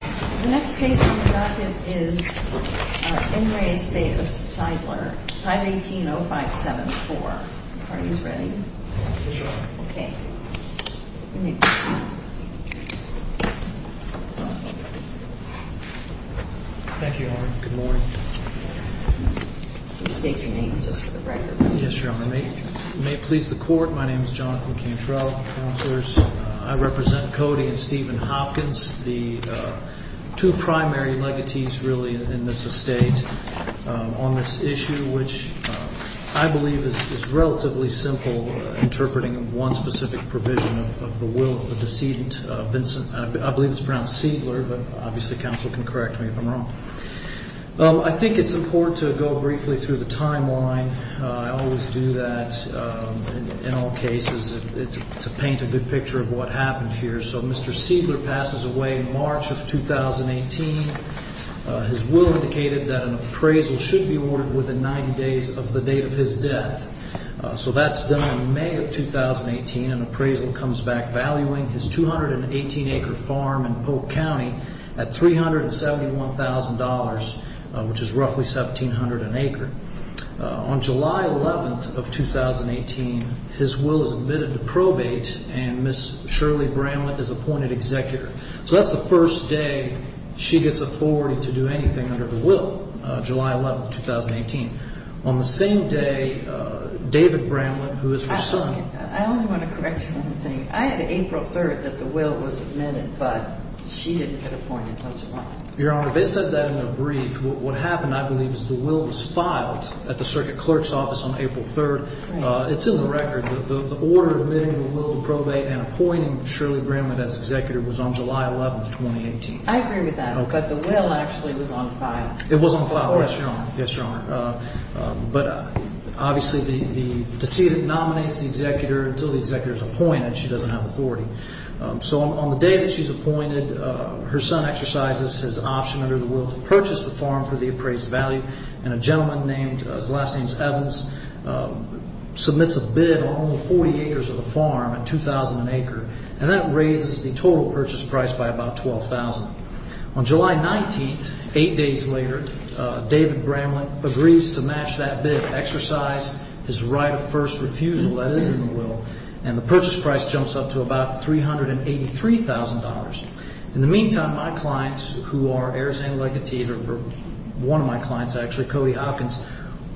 The next case on the docket is En Re Estate of Siedler, 518-0574. Are you ready? Yes, Your Honor. Okay. Thank you, Your Honor. Good morning. State your name, just for the record. Yes, Your Honor. May it please the court, my name is Jonathan Cantrell. I represent Cody and Stephen Hopkins, the two primary legatees really in this estate on this issue, which I believe is relatively simple interpreting of one specific provision of the will of the decedent, I believe it's pronounced Siedler, but obviously counsel can correct me if I'm wrong. I think it's important to go briefly through the timeline. I always do that in all cases to paint a good picture of what happened here. So Mr. Siedler passes away in March of 2018. His will indicated that an appraisal should be awarded within 90 days of the date of his death. So that's done in May of 2018. An appraisal comes back valuing his 218-acre farm in Polk County at $371,000, which is roughly 1,700 an acre. On July 11th of 2018, his will is admitted to probate, and Ms. Shirley Bramlett is appointed executor. So that's the first day she gets authority to do anything under the will, July 11th, 2018. On the same day, David Bramlett, who is her son. I only want to correct you one thing. I had April 3rd that the will was submitted, but she didn't get appointed until July. Your Honor, they said that in a brief. What happened, I believe, is the will was filed at the circuit clerk's office on April 3rd. It's in the record. The order admitting the will to probate and appointing Shirley Bramlett as executor was on July 11th, 2018. I agree with that, but the will actually was on file. It was on file, yes, Your Honor. Yes, Your Honor. But obviously the decedent nominates the executor until the executor is appointed. She doesn't have authority. So on the day that she's appointed, her son exercises his option under the will to purchase the farm for the appraised value, and a gentleman named, his last name's Evans, submits a bid on only 40 acres of the farm at $2,000 an acre, and that raises the total purchase price by about $12,000. On July 19th, eight days later, David Bramlett agrees to match that bid, exercise his right of first refusal that is in the will, and the purchase price jumps up to about $383,000. In the meantime, my clients, who are Arizona legatees, or one of my clients actually, Cody Hopkins,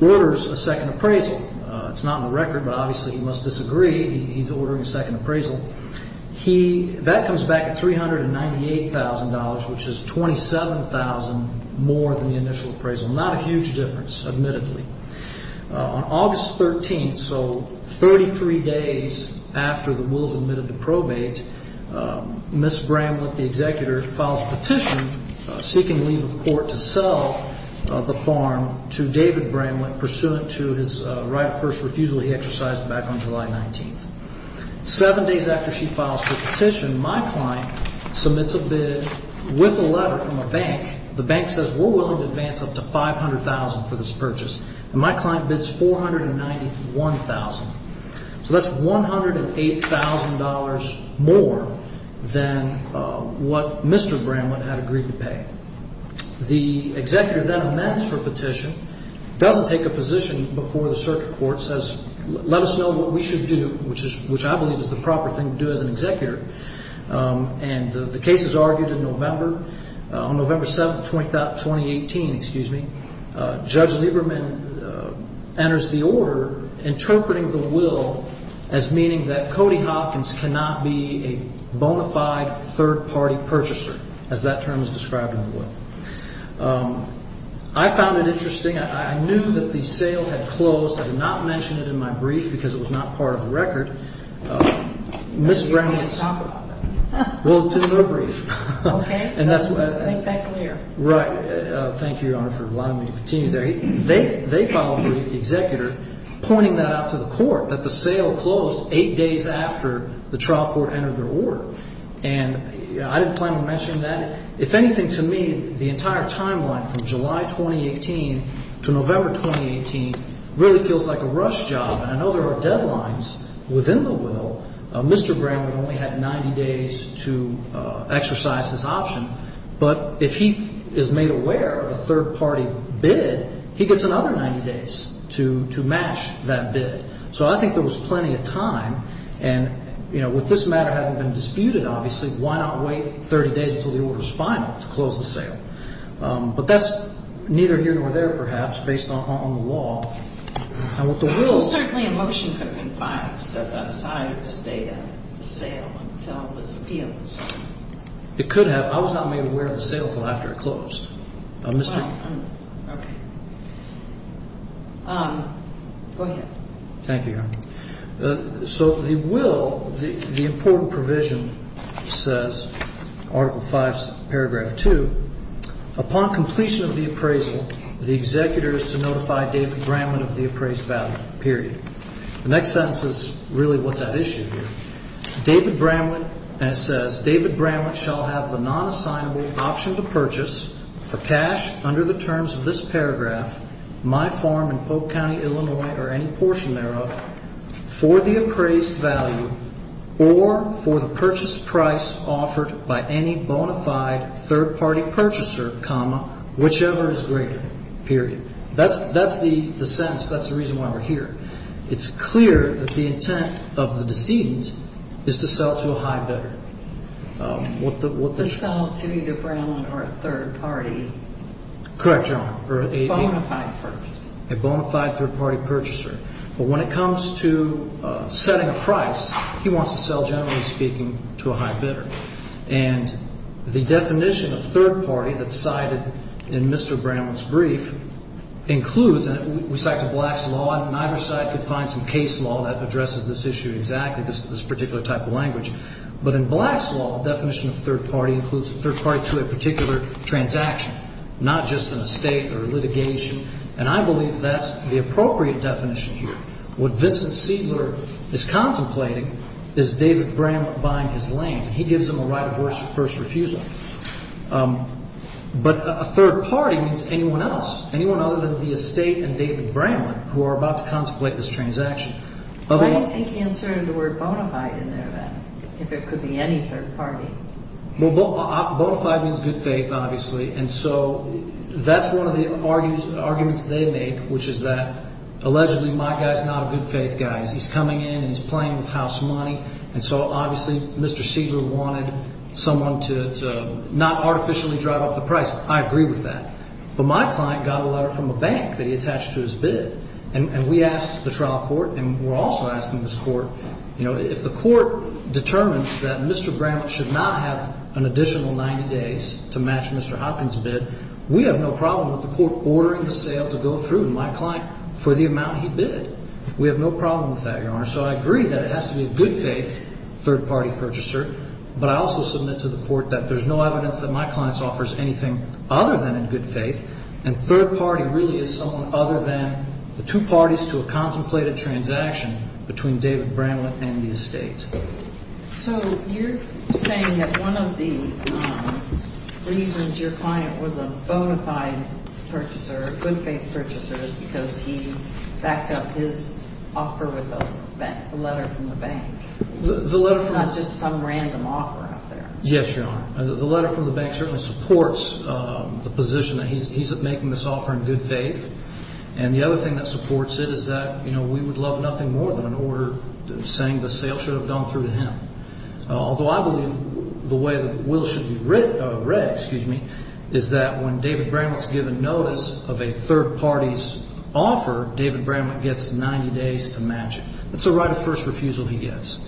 orders a second appraisal. It's not in the record, but obviously he must disagree. He's ordering a second appraisal. That comes back at $398,000, which is $27,000 more than the initial appraisal. Not a huge difference, admittedly. On August 13th, so 33 days after the will's admitted to probate, Ms. Bramlett, the executor, files a petition seeking leave of court to sell the farm to David Bramlett, pursuant to his right of first refusal he exercised back on July 19th. Seven days after she files her petition, my client submits a bid with a letter from a bank. The bank says, we're willing to advance up to $500,000 for this purchase, and my client bids $491,000. So that's $108,000 more than what Mr. Bramlett had agreed to pay. The executor then amends her petition, doesn't take a position before the circuit court, says, let us know what we should do, which I believe is the proper thing to do as an executor. And the case is argued in November. On November 7th, 2018, excuse me, Judge Lieberman enters the order, interpreting the will as meaning that Cody Hopkins cannot be a bona fide third-party purchaser, as that term is described in the will. I found it interesting. I knew that the sale had closed. I did not mention it in my brief because it was not part of the record. You can't talk about that. Well, it's in the brief. Okay. Make that clear. Right. Thank you, Your Honor, for allowing me to continue there. They filed a brief, the executor, pointing that out to the court, that the sale closed eight days after the trial court entered their order. And I didn't plan on mentioning that. If anything, to me, the entire timeline from July 2018 to November 2018 really feels like a rush job. And I know there are deadlines within the will. Mr. Graham would only have 90 days to exercise his option. But if he is made aware of a third-party bid, he gets another 90 days to match that bid. So I think there was plenty of time. And, you know, with this matter having been disputed, obviously, why not wait 30 days until the order is final to close the sale? But that's neither here nor there, perhaps, based on the law. Well, certainly a motion could have been filed outside of the sale until it was appealed. It could have. I was not made aware of the sale until after it closed. Okay. Go ahead. Thank you, Your Honor. So the will, the important provision says, Article V, Paragraph 2, Upon completion of the appraisal, the executor is to notify David Bramlin of the appraised value, period. The next sentence is really what's at issue here. David Bramlin says, David Bramlin shall have the non-assignable option to purchase, for cash under the terms of this paragraph, my farm in Polk County, Illinois, or any portion thereof, for the appraised value or for the purchase price offered by any bona fide third-party purchaser, comma, whichever is greater, period. That's the sentence. That's the reason why we're here. It's clear that the intent of the decedent is to sell to a high bidder. To sell to either Bramlin or a third party. Correct, Your Honor. A bona fide third-party purchaser. But when it comes to setting a price, he wants to sell, generally speaking, to a high bidder. And the definition of third party that's cited in Mr. Bramlin's brief includes, and we cite the Black's Law, and either side could find some case law that addresses this issue exactly, this particular type of language. But in Black's Law, the definition of third party includes a third party to a particular transaction, not just in a state or litigation. And I believe that's the appropriate definition here. What Vincent Seidler is contemplating is David Bramlin buying his land. He gives him a right of first refusal. But a third party means anyone else, anyone other than the estate and David Bramlin, who are about to contemplate this transaction. Why do you think he inserted the word bona fide in there, then, if it could be any third party? Well, bona fide means good faith, obviously. And so that's one of the arguments they make, which is that, allegedly, my guy's not a good faith guy. He's coming in and he's playing with house money. And so, obviously, Mr. Seidler wanted someone to not artificially drive up the price. I agree with that. But my client got a letter from a bank that he attached to his bid. And we asked the trial court, and we're also asking this court, you know, if the court determines that Mr. Bramlin should not have an additional 90 days to match Mr. Hopkins' bid, we have no problem with the court ordering the sale to go through my client for the amount he bid. We have no problem with that, Your Honor. So I agree that it has to be a good faith third party purchaser. But I also submit to the court that there's no evidence that my client offers anything other than in good faith. And third party really is someone other than the two parties to a contemplated transaction between David Bramlin and the estate. So you're saying that one of the reasons your client was a bona fide purchaser, a good faith purchaser, is because he backed up his offer with a letter from the bank, not just some random offer out there. Yes, Your Honor. The letter from the bank certainly supports the position that he's making this offer in good faith. And the other thing that supports it is that, you know, we would love nothing more than an order saying the sale should have gone through to him. Although I believe the way the will should be read, excuse me, is that when David Bramlin is given notice of a third party's offer, David Bramlin gets 90 days to match it. That's a right of first refusal he gets.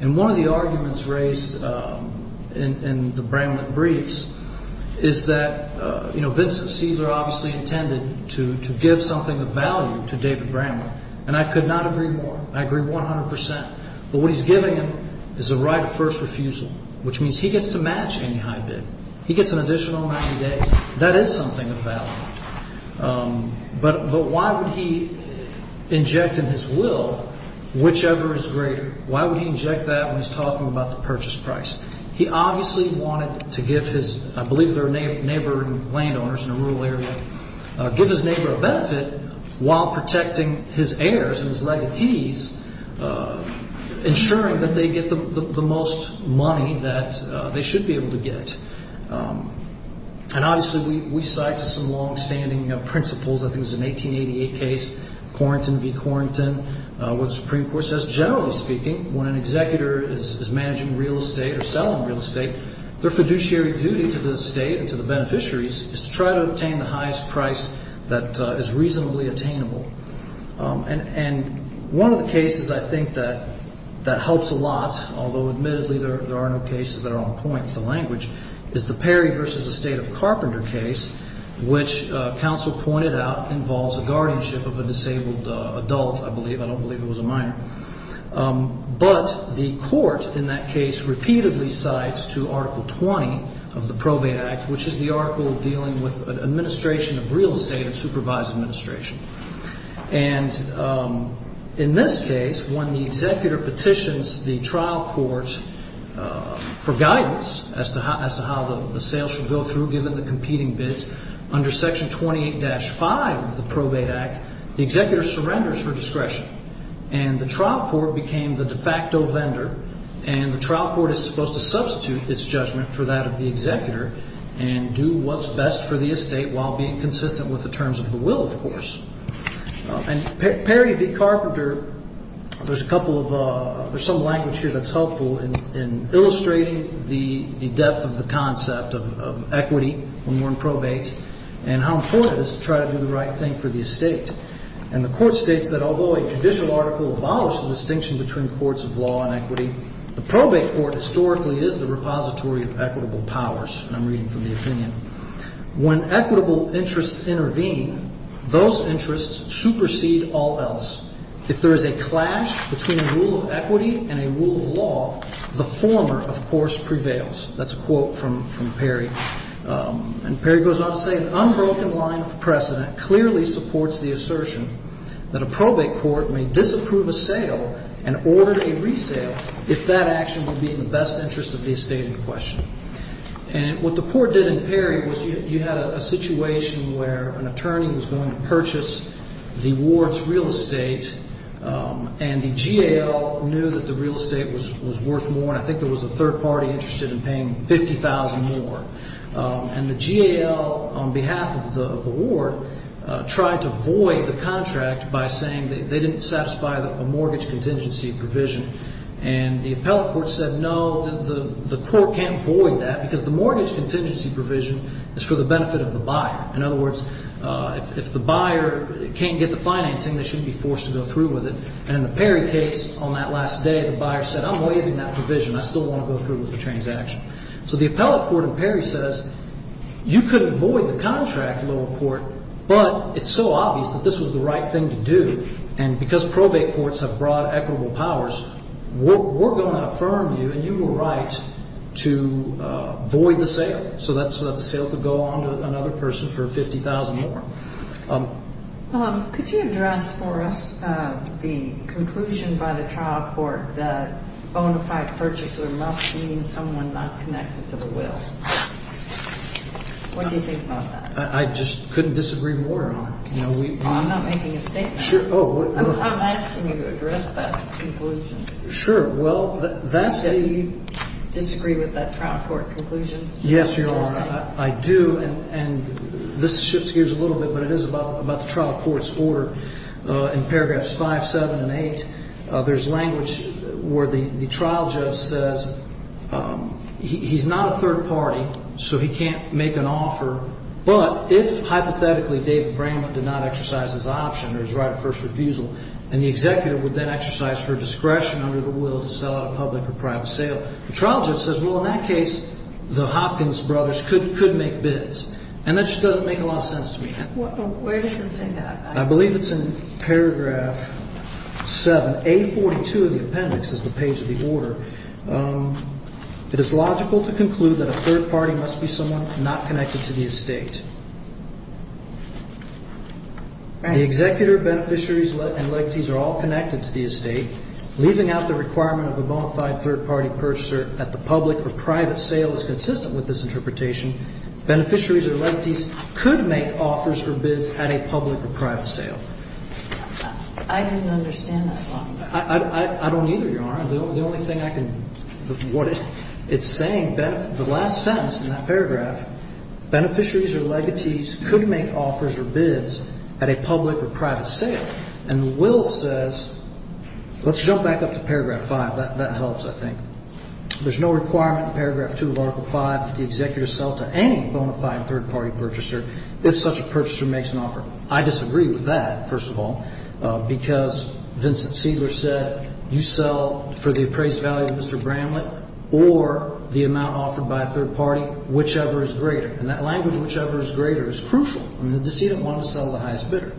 And one of the arguments raised in the Bramlin briefs is that, you know, Vincent Cesar obviously intended to give something of value to David Bramlin. And I could not agree more. I agree 100 percent. But what he's giving him is a right of first refusal, which means he gets to match any high bid. He gets an additional 90 days. That is something of value. But why would he inject in his will whichever is greater? Why would he inject that when he's talking about the purchase price? He obviously wanted to give his, I believe they're neighboring landowners in a rural area, give his neighbor a benefit while protecting his heirs and his legatees, ensuring that they get the most money that they should be able to get. And obviously we cite some longstanding principles. I think there's an 1888 case, Corrington v. Corrington, where the Supreme Court says generally speaking when an executor is managing real estate or selling real estate, their fiduciary duty to the state and to the beneficiaries is to try to obtain the highest price that is reasonably attainable. And one of the cases I think that helps a lot, although admittedly there are no cases that are on point, with the language, is the Perry v. The State of Carpenter case, which counsel pointed out involves a guardianship of a disabled adult, I believe. I don't believe it was a minor. But the court in that case repeatedly cites to Article 20 of the Probate Act, which is the article dealing with administration of real estate and supervised administration. And in this case, when the executor petitions the trial court for guidance as to how the sale should go through, given the competing bids, under Section 28-5 of the Probate Act, the executor surrenders for discretion. And the trial court became the de facto vendor, and the trial court is supposed to substitute its judgment for that of the executor and do what's best for the estate while being consistent with the terms of the will, of course. And Perry v. Carpenter, there's a couple of ‑‑ there's some language here that's helpful in illustrating the depth of the concept of equity when we're in probate and how important it is to try to do the right thing for the estate. And the court states that although a judicial article abolished the distinction between courts of law and equity, the probate court historically is the repository of equitable powers. And I'm reading from the opinion. When equitable interests intervene, those interests supersede all else. If there is a clash between a rule of equity and a rule of law, the former, of course, prevails. That's a quote from Perry. And Perry goes on to say, an unbroken line of precedent clearly supports the assertion that a probate court may disapprove a sale and order a resale if that action would be in the best interest of the estate in question. And what the court did in Perry was you had a situation where an attorney was going to purchase the ward's real estate and the GAL knew that the real estate was worth more, and I think there was a third party interested in paying $50,000 more. And the GAL, on behalf of the ward, tried to void the contract by saying they didn't satisfy a mortgage contingency provision. And the appellate court said, no, the court can't void that because the mortgage contingency provision is for the benefit of the buyer. In other words, if the buyer can't get the financing, they shouldn't be forced to go through with it. And in the Perry case on that last day, the buyer said, I'm waiving that provision. I still want to go through with the transaction. So the appellate court in Perry says, you could void the contract, lower court, but it's so obvious that this was the right thing to do and because probate courts have broad equitable powers, we're going to affirm you and you were right to void the sale so that the sale could go on to another person for $50,000 more. Could you address for us the conclusion by the trial court that bona fide purchaser must mean someone not connected to the will? What do you think about that? I just couldn't disagree more on it. I'm not making a statement. I'm asking you to address that conclusion. Sure. Well, that's the – Do you disagree with that trial court conclusion? Yes, Your Honor, I do. And this shifts gears a little bit, but it is about the trial court's order in paragraphs 5, 7, and 8. There's language where the trial judge says he's not a third party, so he can't make an offer, but if hypothetically David Bramman did not exercise his option or his right of first refusal and the executive would then exercise her discretion under the will to sell out of public or private sale, the trial judge says, well, in that case, the Hopkins brothers could make bids. And that just doesn't make a lot of sense to me. Where does it say that? I believe it's in paragraph 7. A42 of the appendix is the page of the order. It is logical to conclude that a third party must be someone not connected to the estate. The executor, beneficiaries, and electees are all connected to the estate, leaving out the requirement of a bona fide third party purchaser that the public or private sale is consistent with this interpretation. Beneficiaries or electees could make offers or bids at a public or private sale. I didn't understand that line. I don't either, Your Honor. The only thing I can – what it's saying, the last sentence in that paragraph, beneficiaries or electees could make offers or bids at a public or private sale. And the will says – let's jump back up to paragraph 5. That helps, I think. There's no requirement in paragraph 2 of article 5 that the executor sell to any bona fide third party purchaser if such a purchaser makes an offer. I disagree with that, first of all, because Vincent Seidler said, you sell for the appraised value of Mr. Bramlett or the amount offered by a third party, whichever is greater. And that language, whichever is greater, is crucial. The decedent wanted to sell to the highest bidder.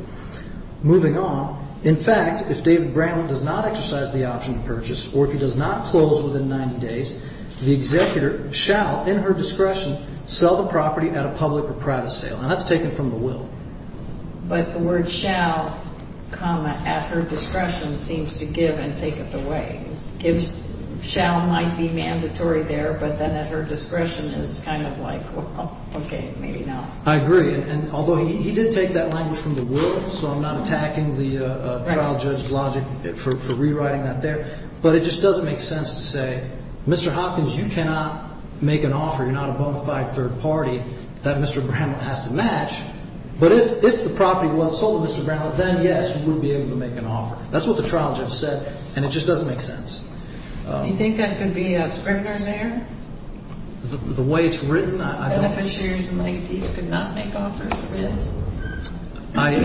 Moving on, in fact, if David Bramlett does not exercise the option to purchase or if he does not close within 90 days, the executor shall, in her discretion, sell the property at a public or private sale. And that's taken from the will. But the word shall, comma, at her discretion, seems to give and take it away. Shall might be mandatory there, but then at her discretion is kind of like, okay, maybe not. I agree. And although he did take that language from the will, so I'm not attacking the trial judge's logic for rewriting that there. But it just doesn't make sense to say, Mr. Hopkins, you cannot make an offer, you're not a bona fide third party, that Mr. Bramlett has to match. But if the property was sold to Mr. Bramlett, then, yes, you would be able to make an offer. That's what the trial judge said, and it just doesn't make sense. Do you think that could be a scrivener's error? The way it's written, I don't think. And if a scrivener's error could not make offers for it? I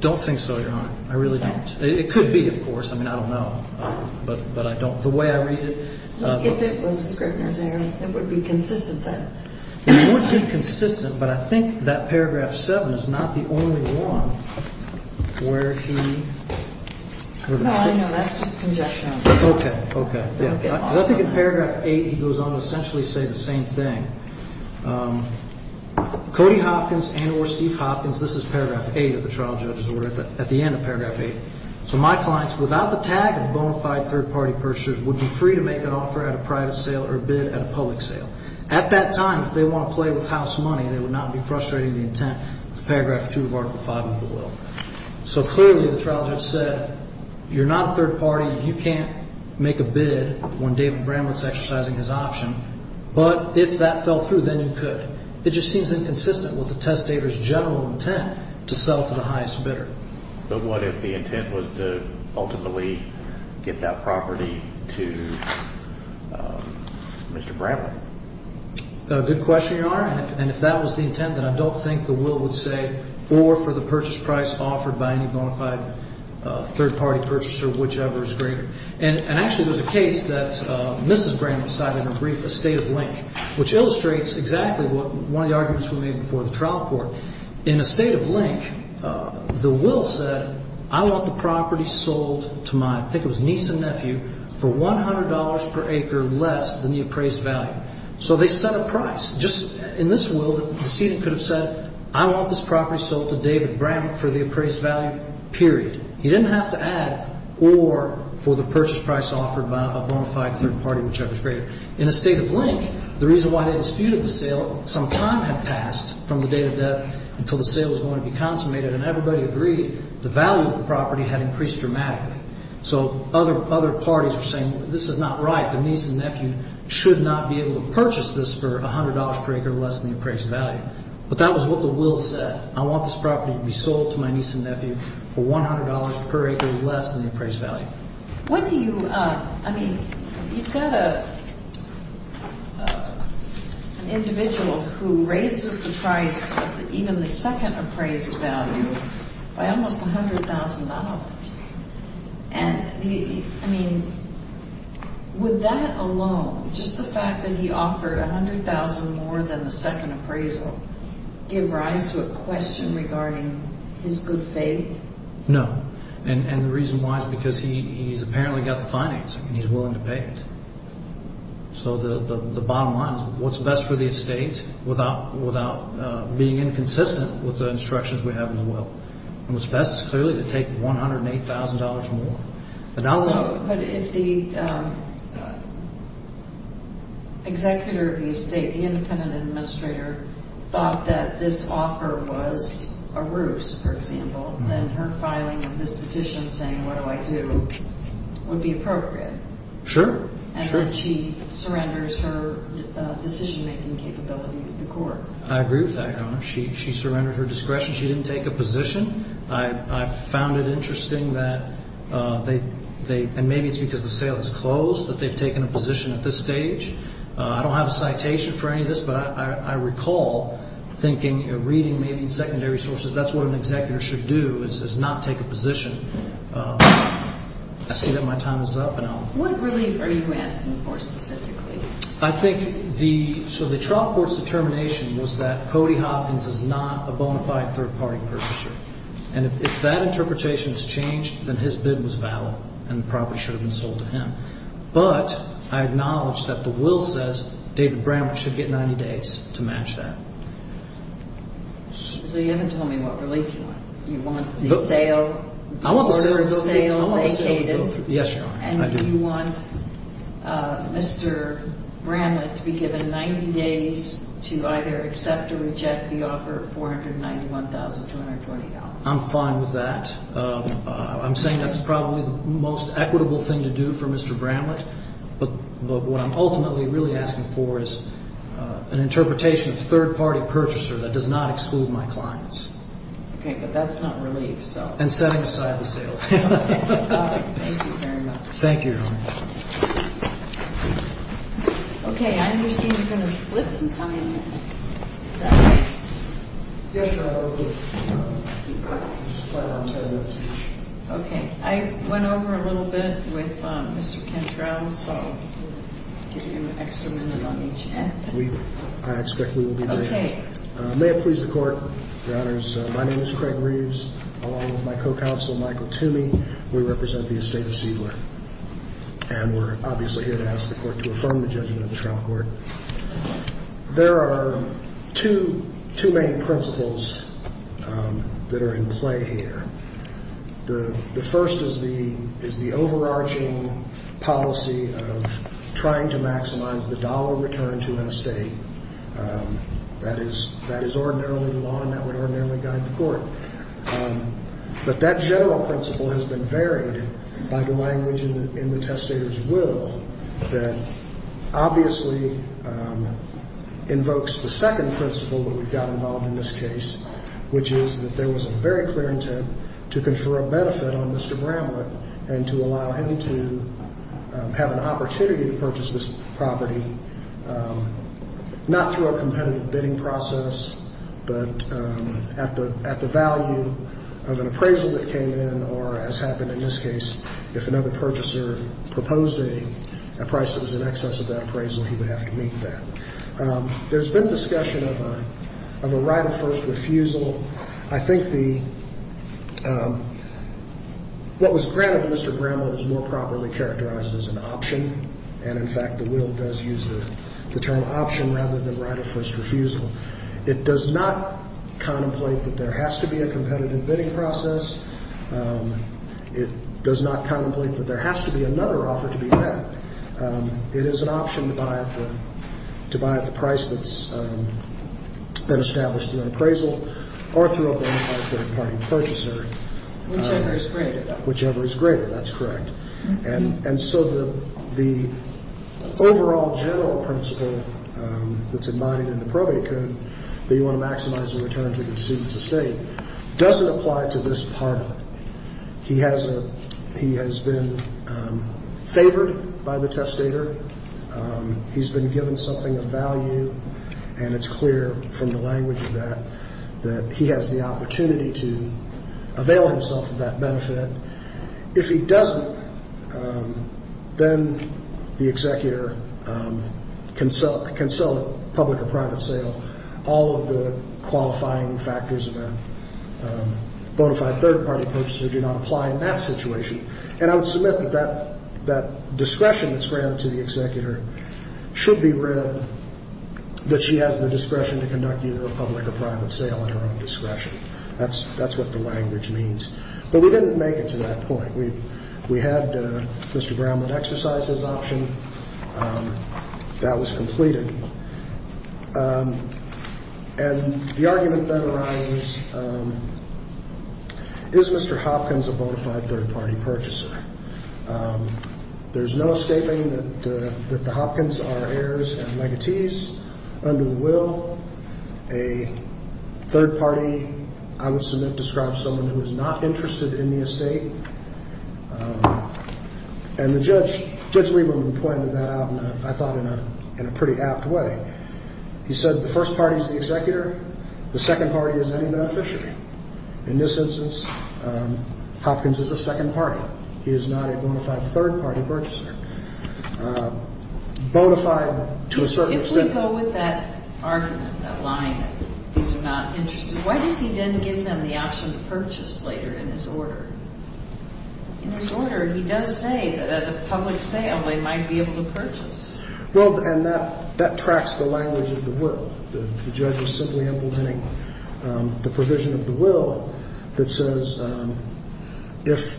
don't think so, Your Honor. I really don't. It could be, of course. I mean, I don't know. But I don't the way I read it. If it was a scrivener's error, it would be consistent then. It would be consistent, but I think that paragraph 7 is not the only one where he sort of said. No, I know. That's just conjecture. Okay. Okay. I think in paragraph 8, he goes on to essentially say the same thing. Cody Hopkins and or Steve Hopkins, this is paragraph 8 of the trial judge's order, at the end of paragraph 8. So, my clients, without the tag of bona fide third-party purchasers, would be free to make an offer at a private sale or bid at a public sale. At that time, if they want to play with house money, they would not be frustrating the intent of paragraph 2 of Article 5 of the will. So, clearly, the trial judge said, you're not a third party. You can't make a bid when David Bramlett's exercising his option. But if that fell through, then you could. It just seems inconsistent with the testator's general intent to sell to the highest bidder. But what if the intent was to ultimately get that property to Mr. Bramlett? Good question, Your Honor. And if that was the intent, then I don't think the will would say, or for the purchase price offered by any bona fide third-party purchaser, whichever is greater. And actually, there's a case that Mrs. Bramlett cited in her brief, Estate of Link, which illustrates exactly one of the arguments we made before the trial court. In Estate of Link, the will said, I want the property sold to my, I think it was niece and nephew, for $100 per acre less than the appraised value. So they set a price. Just in this will, the decedent could have said, I want this property sold to David Bramlett for the appraised value, period. He didn't have to add or for the purchase price offered by a bona fide third-party, whichever is greater. In Estate of Link, the reason why they disputed the sale, some time had passed from the date of death until the sale was going to be consummated, and everybody agreed the value of the property had increased dramatically. So other parties were saying, this is not right. The niece and nephew should not be able to purchase this for $100 per acre less than the appraised value. But that was what the will said. I want this property to be sold to my niece and nephew for $100 per acre less than the appraised value. What do you, I mean, you've got an individual who raises the price, even the second appraised value, by almost $100,000. And, I mean, would that alone, just the fact that he offered $100,000 more than the second appraisal, give rise to a question regarding his good faith? No. And the reason why is because he's apparently got the financing and he's willing to pay it. So the bottom line is what's best for the estate without being inconsistent with the instructions we have in the will. And what's best is clearly to take $108,000 more. But if the executor of the estate, the independent administrator, thought that this offer was a ruse, for example, then her filing of this petition saying, what do I do, would be appropriate. Sure. And then she surrenders her decision-making capability to the court. I agree with that, Your Honor. She surrendered her discretion. She didn't take a position. I found it interesting that they, and maybe it's because the sale is closed, that they've taken a position at this stage. I don't have a citation for any of this, but I recall thinking, reading maybe secondary sources, that's what an executor should do is not take a position. I see that my time is up. What relief are you asking for specifically? I think the, so the trial court's determination was that Cody Hopkins is not a bona fide third-party purchaser. And if that interpretation is changed, then his bid was valid and the property should have been sold to him. But I acknowledge that the will says David Bramble should get 90 days to match that. So you haven't told me what relief you want. You want the sale, the order of sale vacated? Yes, Your Honor, I do. Do you want Mr. Bramlett to be given 90 days to either accept or reject the offer of $491,220? I'm fine with that. I'm saying that's probably the most equitable thing to do for Mr. Bramlett. But what I'm ultimately really asking for is an interpretation of third-party purchaser that does not exclude my clients. Okay, but that's not relief, so. And setting aside the sale. Thank you very much. Thank you, Your Honor. Okay, I understand you're going to split some time. Yes, Your Honor, I will split. I just plan on 10 minutes each. Okay. I went over a little bit with Mr. Cantrell, so I'll give you an extra minute on each hand. I expect we will be brief. Okay. May it please the Court, Your Honors, my name is Craig Reeves, along with my co-counsel, Michael Toomey. We represent the estate of Seidler. And we're obviously here to ask the Court to affirm the judgment of the trial court. There are two main principles that are in play here. The first is the overarching policy of trying to maximize the dollar return to an estate. That is ordinarily the law and that would ordinarily guide the Court. But that general principle has been varied by the language in the testator's will that obviously invokes the second principle that we've got involved in this case, which is that there was a very clear intent to confer a benefit on Mr. Bramlett and to allow him to have an opportunity to purchase this property, not through a competitive bidding process, but at the value of an appraisal that came in or, as happened in this case, if another purchaser proposed a price that was in excess of that appraisal, he would have to meet that. There's been discussion of a right of first refusal. I think what was granted to Mr. Bramlett was more properly characterized as an option. And, in fact, the will does use the term option rather than right of first refusal. It does not contemplate that there has to be a competitive bidding process. It does not contemplate that there has to be another offer to be met. It is an option to buy at the price that's been established through an appraisal or through a bona fide third-party purchaser. Whichever is greater. Whichever is greater. That's correct. And so the overall general principle that's embodied in the probate code, that you want to maximize the return to the decedent's estate, doesn't apply to this part of it. He has been favored by the testator. He's been given something of value. And it's clear from the language of that that he has the opportunity to avail himself of that benefit. If he doesn't, then the executor can sell it public or private sale. All of the qualifying factors of a bona fide third-party purchaser do not apply in that situation. And I would submit that that discretion that's granted to the executor should be read that she has the discretion to conduct either a public or private sale at her own discretion. That's what the language means. But we didn't make it to that point. We had Mr. Brownman exercise his option. That was completed. And the argument that arises is Mr. Hopkins a bona fide third-party purchaser. There's no statement that the Hopkins are heirs and negatees under the will. A third party, I would submit, describes someone who is not interested in the estate. And Judge Lieberman pointed that out, I thought, in a pretty apt way. He said the first party is the executor. The second party is any beneficiary. In this instance, Hopkins is a second party. He is not a bona fide third-party purchaser. Bona fide to a certain extent. But where do you go with that argument, that line that these are not interested? Why does he then give them the option to purchase later in his order? In his order, he does say that at a public sale they might be able to purchase. Well, and that tracks the language of the will. The judge was simply implementing the provision of the will that says if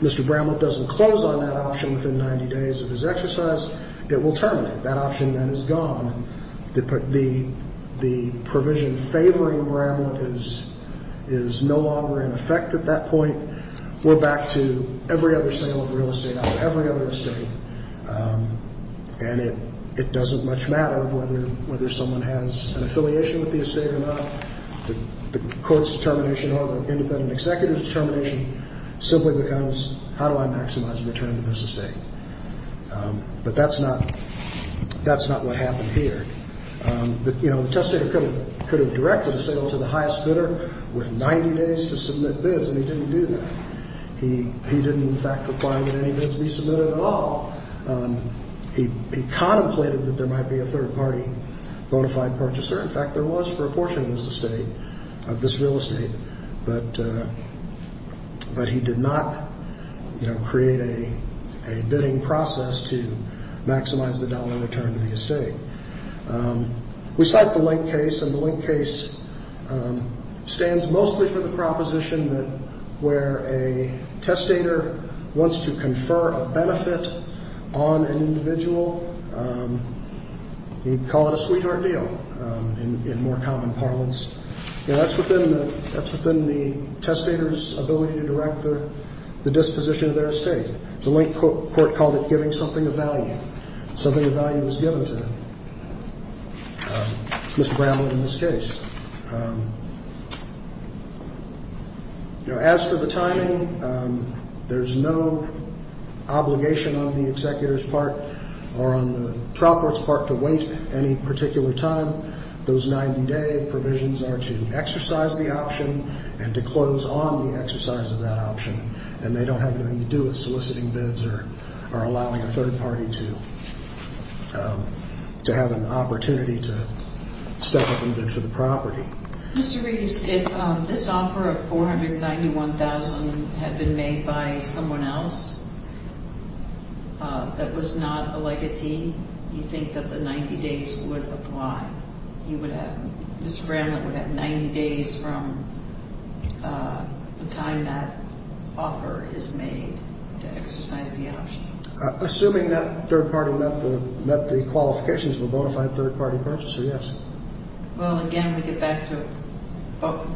Mr. Brownman doesn't close on that option within 90 days of his exercise, it will terminate. That option then is gone. The provision favoring Brownman is no longer in effect at that point. We're back to every other sale of real estate out of every other estate. And it doesn't much matter whether someone has an affiliation with the estate or not. The court's determination or the independent executive's determination simply becomes how do I maximize the return to this estate? But that's not what happened here. You know, the testator could have directed a sale to the highest bidder with 90 days to submit bids, and he didn't do that. He didn't, in fact, require that any bids be submitted at all. He contemplated that there might be a third-party bona fide purchaser. In fact, there was for a portion of this estate, of this real estate. But he did not, you know, create a bidding process to maximize the dollar return to the estate. We cite the Link case, and the Link case stands mostly for the proposition that where a testator wants to confer a benefit on an individual, he'd call it a sweetheart deal in more common parlance. You know, that's within the testator's ability to direct the disposition of their estate. The Link court called it giving something of value, something of value was given to them, Mr. Bramlin in this case. You know, as for the timing, there's no obligation on the executor's part or on the trial court's part to wait any particular time. Those 90-day provisions are to exercise the option and to close on the exercise of that option, and they don't have anything to do with soliciting bids or allowing a third party to have an opportunity to step up and bid for the property. Mr. Reeves, if this offer of $491,000 had been made by someone else that was not a legatee, you think that the 90 days would apply? You would have, Mr. Bramlin would have 90 days from the time that offer is made to exercise the option? Assuming that third party met the qualifications of a bona fide third party purchaser, yes. Well, again, we get back to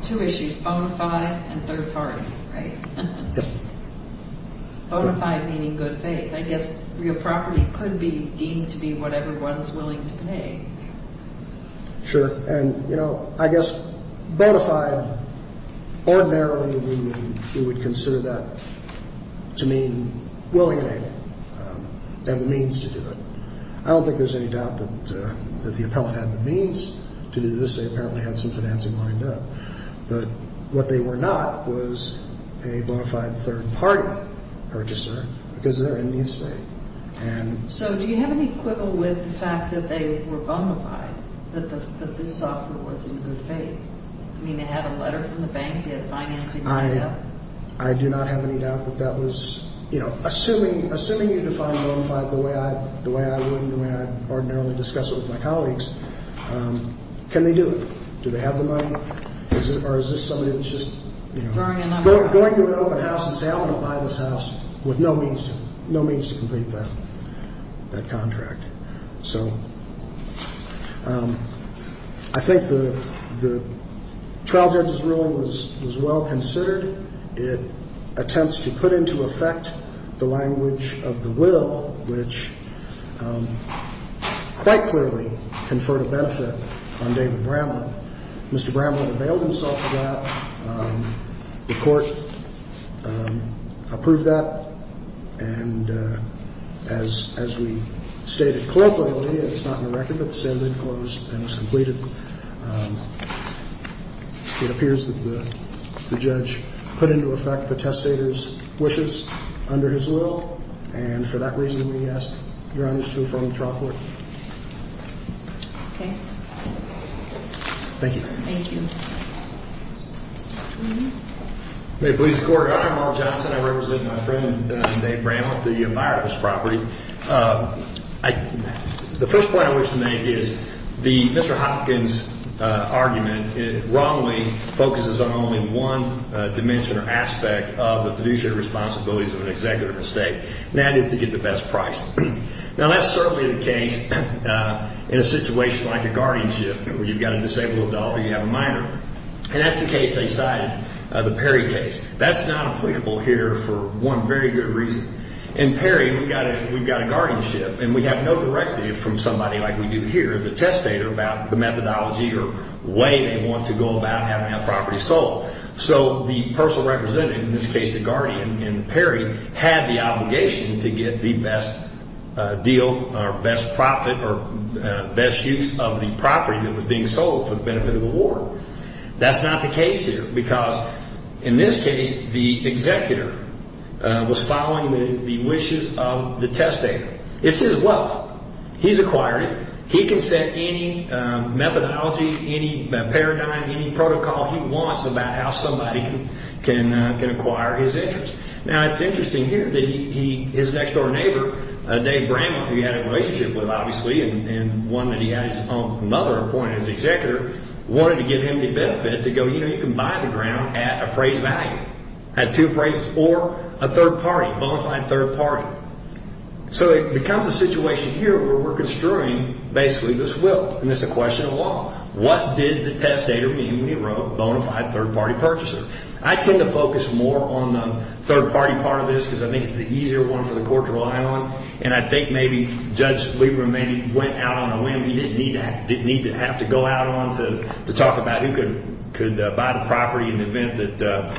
two issues, bona fide and third party, right? Yes. Bona fide meaning good faith. I guess your property could be deemed to be whatever one's willing to pay. Sure. And, you know, I guess bona fide, ordinarily we would consider that to mean willing and able to have the means to do it. I don't think there's any doubt that the appellant had the means to do this. They apparently had some financing lined up. But what they were not was a bona fide third party purchaser because they're in the estate. So do you have any quibble with the fact that they were bona fide, that this offer was in good faith? I mean, it had a letter from the bank, it had financing lined up? I do not have any doubt that that was, you know, assuming you define bona fide the way I would and the way I'd ordinarily discuss it with my colleagues, can they do it? Do they have the money? Or is this somebody that's just going to an open house and saying, I'm going to buy this house with no means to complete that contract? So I think the trial judge's ruling was well considered. It attempts to put into effect the language of the will, which quite clearly conferred a benefit on David Bramlin. Mr. Bramlin availed himself of that. The court approved that. And as we stated colloquially, it's not in the record, but the sale did close and was completed. It appears that the judge put into effect the testator's wishes under his will. And for that reason, we ask your honors to affirm the trial court. Okay. Thank you. Thank you. Mr. Twohy. May it please the Court. Your Honor, Mark Johnson. I represent my friend, Dave Bramlin, the buyer of this property. The first point I wish to make is Mr. Hopkins' argument wrongly focuses on only one dimension or aspect of the fiduciary responsibilities of an executive estate, and that is to get the best price. Now, that's certainly the case in a situation like a guardianship where you've got a disabled adult or you have a minor. And that's the case they cited, the Perry case. That's not applicable here for one very good reason. In Perry, we've got a guardianship, and we have no directive from somebody like we do here, the testator, about the methodology or way they want to go about having that property sold. So the person representing, in this case the guardian in Perry, had the obligation to get the best deal or best profit or best use of the property that was being sold for the benefit of the ward. That's not the case here because, in this case, the executor was following the wishes of the testator. It's his wealth. He's acquired it. He can set any methodology, any paradigm, any protocol he wants about how somebody can acquire his interest. Now, it's interesting here that his next-door neighbor, Dave Bramlin, who he had a relationship with, obviously, and one that he had his own mother appointed as executor, wanted to give him the benefit to go, you know, you can buy the ground at appraised value, at two appraisals, or a third party, a bona fide third party. So it becomes a situation here where we're construing basically this will, and it's a question of law. What did the testator mean when he wrote bona fide third-party purchaser? I tend to focus more on the third-party part of this because I think it's the easier one for the court to rely on, and I think maybe Judge Lieberman went out on a whim. He didn't need to have to go out on to talk about who could buy the property in the event that,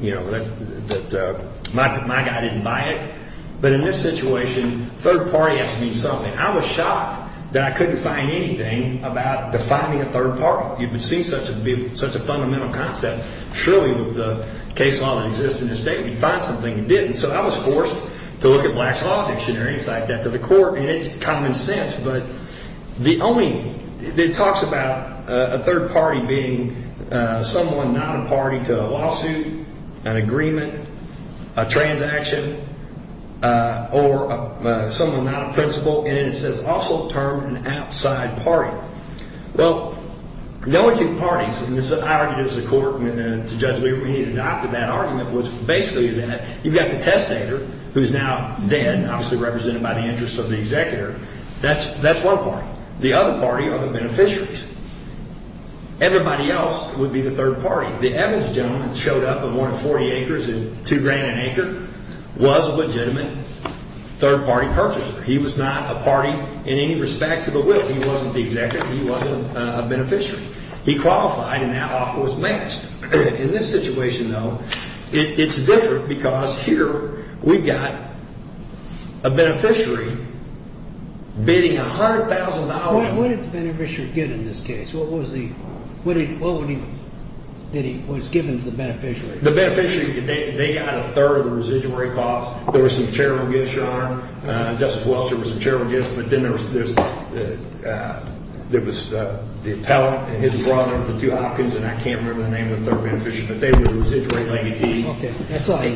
you know, that my guy didn't buy it. But in this situation, third party has to mean something. I was shocked that I couldn't find anything about defining a third party. You've seen such a fundamental concept. Surely, with the case law that exists in this state, you'd find something you didn't. And so I was forced to look at Black's Law Dictionary and cite that to the court, and it's common sense. But the only – it talks about a third party being someone not a party to a lawsuit, an agreement, a transaction, or someone not a principal. And then it says also term an outside party. Well, the only two parties – and I argued this in court to Judge Lieberman. He adopted that argument, which basically is that you've got the testator, who is now then obviously represented by the interests of the executor. That's one party. The other party are the beneficiaries. Everybody else would be the third party. The Evans gentleman showed up and wanted 40 acres and two grand an acre, was a legitimate third-party purchaser. He was not a party in any respect to the will. He wasn't the executor. He wasn't a beneficiary. He qualified, and that offer was matched. In this situation, though, it's different because here we've got a beneficiary bidding $100,000. What did the beneficiary get in this case? What was the – what did he – what was given to the beneficiary? The beneficiary – they got a third of the residuary cost. There were some charitable gifts, Your Honor. Justice Welsher was a charitable gift, but then there was this – there was the appellant and his brother, the two Hopkins, and I can't remember the name of the third beneficiary, but they were the residuary legatee. Okay.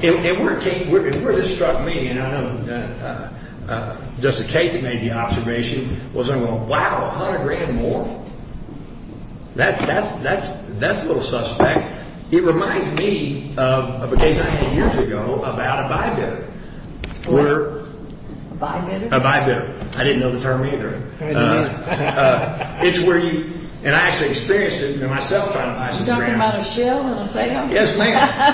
And where it came – and where this struck me, and I know Justice Cates made the observation, was I'm going, wow, 100 grand more? That's a little suspect. It reminds me of a case I had years ago about a buy bidder. What? A buy bidder? A buy bidder. I didn't know the term either. It's where you – and I actually experienced it myself trying to buy some grand. You're talking about a sale, a little sale? Yes, ma'am.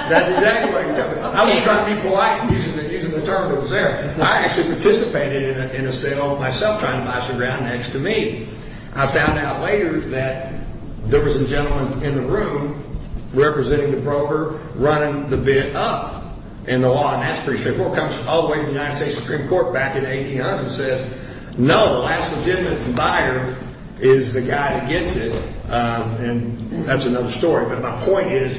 That's exactly what I was talking about. I was trying to be polite using the term that was there. I actually participated in a sale myself trying to buy some grand next to me. I found out later that there was a gentleman in the room representing the broker running the bid up in the law, and that's pretty straightforward. Comes all the way to the United States Supreme Court back in 1800 and says, no, the last legitimate buyer is the guy that gets it, and that's another story. But my point is,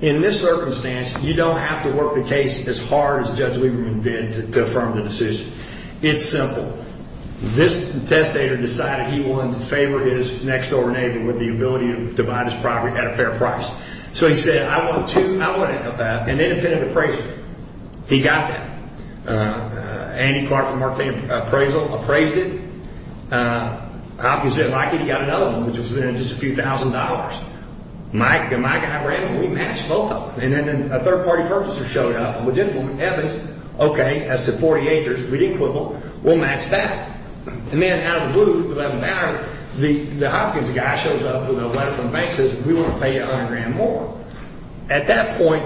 in this circumstance, you don't have to work the case as hard as Judge Lieberman did to affirm the decision. It's simple. This testator decided he wanted to favor his next-door neighbor with the ability to buy this property at a fair price. So he said, I want two – I want an independent appraiser. He got that. Andy Clark from Martini Appraisal appraised it. Obviously, Mikey got another one, which was just a few thousand dollars. Mike and my guy ran them. We matched both of them. And then a third-party purchaser showed up. Okay, as to 40 acres, we didn't quibble. We'll match that. And then out of the blue, for that matter, the Hopkins guy shows up with a letter from the bank and says, we want to pay you 100 grand more. At that point,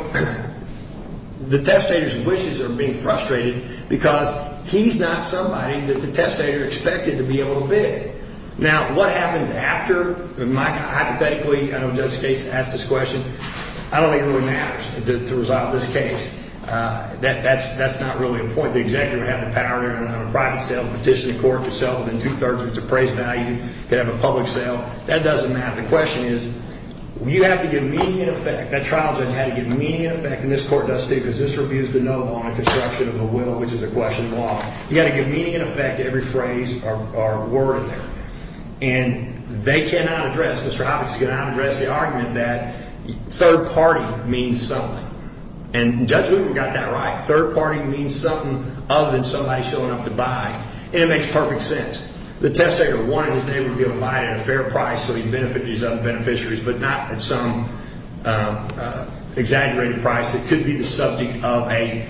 the testator's wishes are being frustrated because he's not somebody that the testator expected to be able to bid. Now, what happens after? Mike, hypothetically, I don't know if the judge has to ask this question. I don't think it really matters to resolve this case. That's not really a point. The executive would have the power to run a private sale, petition the court to sell it within two-thirds of its appraised value. They'd have a public sale. That doesn't matter. The question is, you have to give meaning and effect. That trial judge had to give meaning and effect, and this court does too, because this refused to know on the construction of the will, which is a question of law. You've got to give meaning and effect to every phrase or word there. And they cannot address, Mr. Hopkins cannot address the argument that third party means something. And Judge Whitman got that right. Third party means something other than somebody showing up to buy, and it makes perfect sense. The testator wanted his neighbor to be able to buy it at a fair price so he could benefit these other beneficiaries, but not at some exaggerated price that could be the subject of a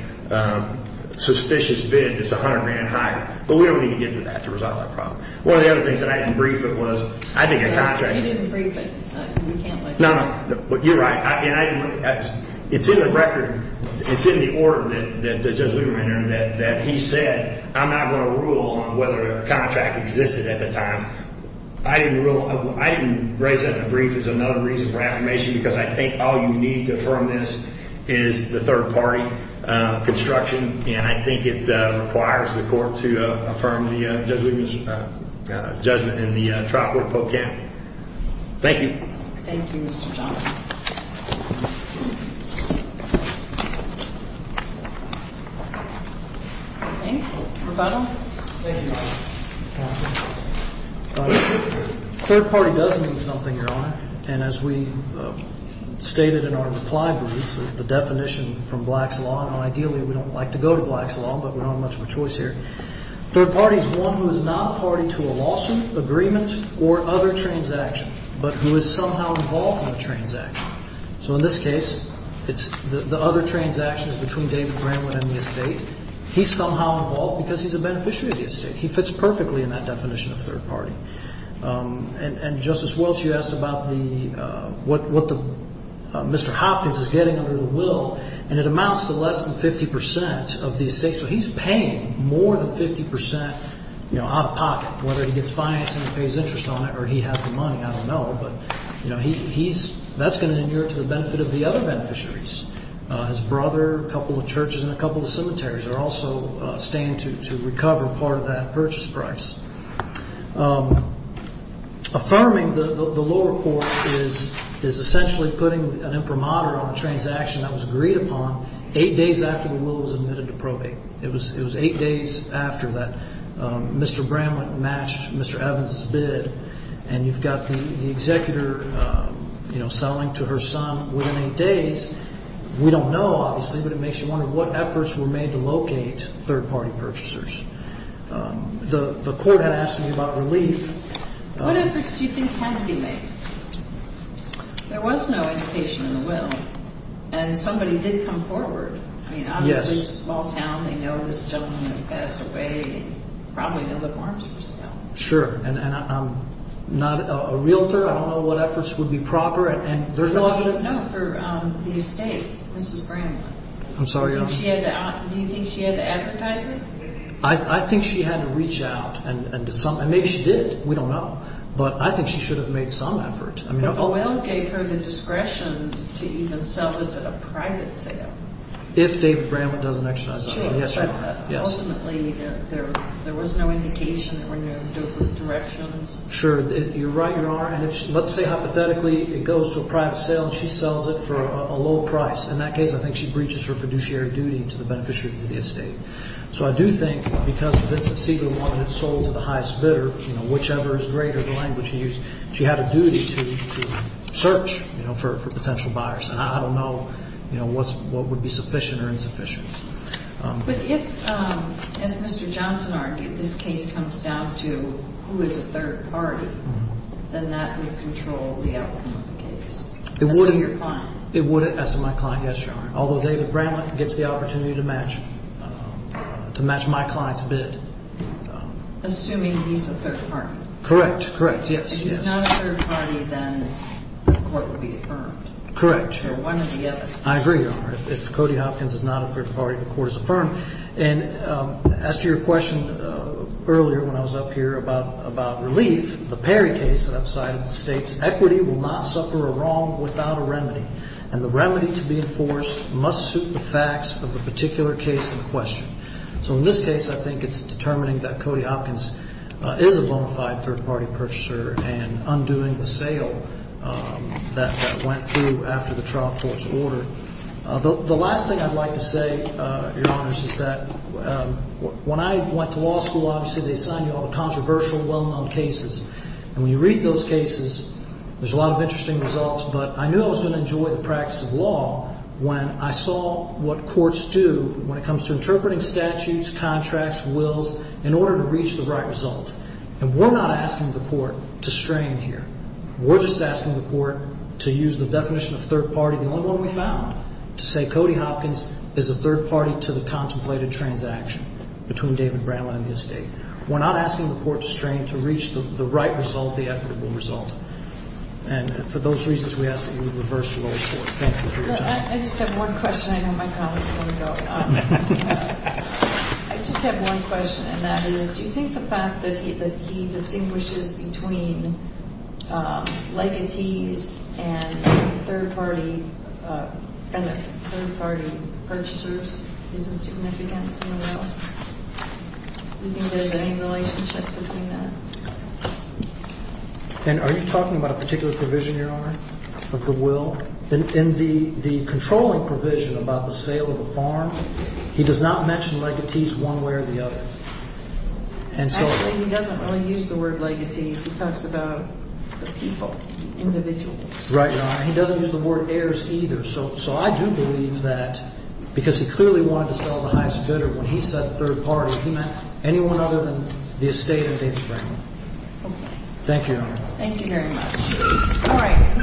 suspicious bid that's 100 grand higher. But we don't need to get to that to resolve that problem. One of the other things that I didn't brief was, I think, a contract. You didn't brief it. No, no. You're right. It's in the record. It's in the order that Judge Whitman entered that he said, I'm not going to rule on whether a contract existed at the time. I didn't raise that in a brief as another reason for affirmation because I think all you need to affirm this is the third party construction, and I think it requires the court to affirm Judge Whitman's judgment in the trial court pro camp. Thank you. Thank you, Mr. Johnson. Thank you. Rebuttal? Thank you, Your Honor. Third party does mean something, Your Honor, and as we stated in our reply brief, the definition from Black's Law, and ideally we don't like to go to Black's Law, but we don't have much of a choice here. Third party is one who is not party to a lawsuit, agreement, or other transaction, but who is somehow involved in the transaction. So in this case, it's the other transactions between David Bramlin and the estate. He's somehow involved because he's a beneficiary of the estate. He fits perfectly in that definition of third party. And Justice Welch, you asked about what Mr. Hopkins is getting under the will, and it amounts to less than 50% of the estate, so he's paying more than 50% out of pocket, whether he gets financing and pays interest on it or he has the money. I don't know, but that's going to inure to the benefit of the other beneficiaries. His brother, a couple of churches, and a couple of cemeteries are also staying to recover part of that purchase price. Affirming the lower court is essentially putting an imprimatur on a transaction that was agreed upon eight days after the will was admitted to probate. It was eight days after that Mr. Bramlin matched Mr. Evans' bid, and you've got the executor selling to her son within eight days. We don't know, obviously, but it makes you wonder what efforts were made to locate third party purchasers. The court had asked me about relief. What efforts do you think had to be made? There was no indication in the will, and somebody did come forward. I mean, obviously, it's a small town. They know this gentleman has passed away. They probably know the forms for sale. Sure, and I'm not a realtor. I don't know what efforts would be proper, and there's no evidence. No, for the estate, Mrs. Bramlin. I'm sorry, Your Honor. Do you think she had to advertise it? I think she had to reach out, and maybe she did. We don't know, but I think she should have made some effort. But the will gave her the discretion to even sell this at a private sale. If David Bramlin doesn't exercise that right. Ultimately, there was no indication. There were no directions. Sure. You're right, Your Honor. And let's say hypothetically it goes to a private sale, and she sells it for a low price. In that case, I think she breaches her fiduciary duty to the beneficiaries of the estate. So I do think because Vincent Segal wanted it sold to the highest bidder, whichever is greater the language he used, she had a duty to search for potential buyers. And I don't know what would be sufficient or insufficient. But if, as Mr. Johnson argued, this case comes down to who is a third party, then that would control the outcome of the case, as to your client. It would, as to my client, yes, Your Honor. Although David Bramlin gets the opportunity to match my client's bid. Assuming he's a third party. Correct, correct, yes. If he's not a third party, then the court would be affirmed. Correct. So one or the other. I agree, Your Honor. If Cody Hopkins is not a third party, the court is affirmed. And as to your question earlier when I was up here about relief, the Perry case that I've cited states, equity will not suffer a wrong without a remedy, and the remedy to be enforced must suit the facts of the particular case in question. So in this case, I think it's determining that Cody Hopkins is a bona fide third party purchaser and undoing the sale that went through after the trial court's order. The last thing I'd like to say, Your Honors, is that when I went to law school, obviously, they assign you all the controversial, well-known cases. And when you read those cases, there's a lot of interesting results, but I knew I was going to enjoy the practice of law when I saw what courts do when it comes to interpreting statutes, contracts, wills, in order to reach the right result. And we're not asking the court to strain here. We're just asking the court to use the definition of third party, the only one we found, to say Cody Hopkins is a third party to the contemplated transaction between David Bramlin and the estate. We're not asking the court to strain to reach the right result, the equitable result. And for those reasons, we ask that you reverse your old court. Thank you for your time. I just have one question. I know my colleagues want to go. I just have one question, and that is do you think the fact that he distinguishes between legatees and third party purchasers isn't significant in the will? Do you think there's any relationship between that? And are you talking about a particular provision, Your Honor, of the will? In the controlling provision about the sale of a farm, he does not mention legatees one way or the other. Actually, he doesn't really use the word legatees. He talks about the people, individuals. Right, Your Honor. He doesn't use the word heirs either. So I do believe that because he clearly wanted to sell the highest bidder, when he said third party, he meant anyone other than the estate and David Bramlin. Okay. Thank you, Your Honor. Thank you very much. All right.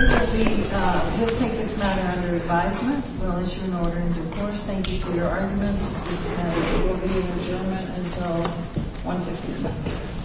We'll take this matter under advisement. We'll issue an order in due course. Thank you for your arguments. We will be in adjournment until 1.50 p.m.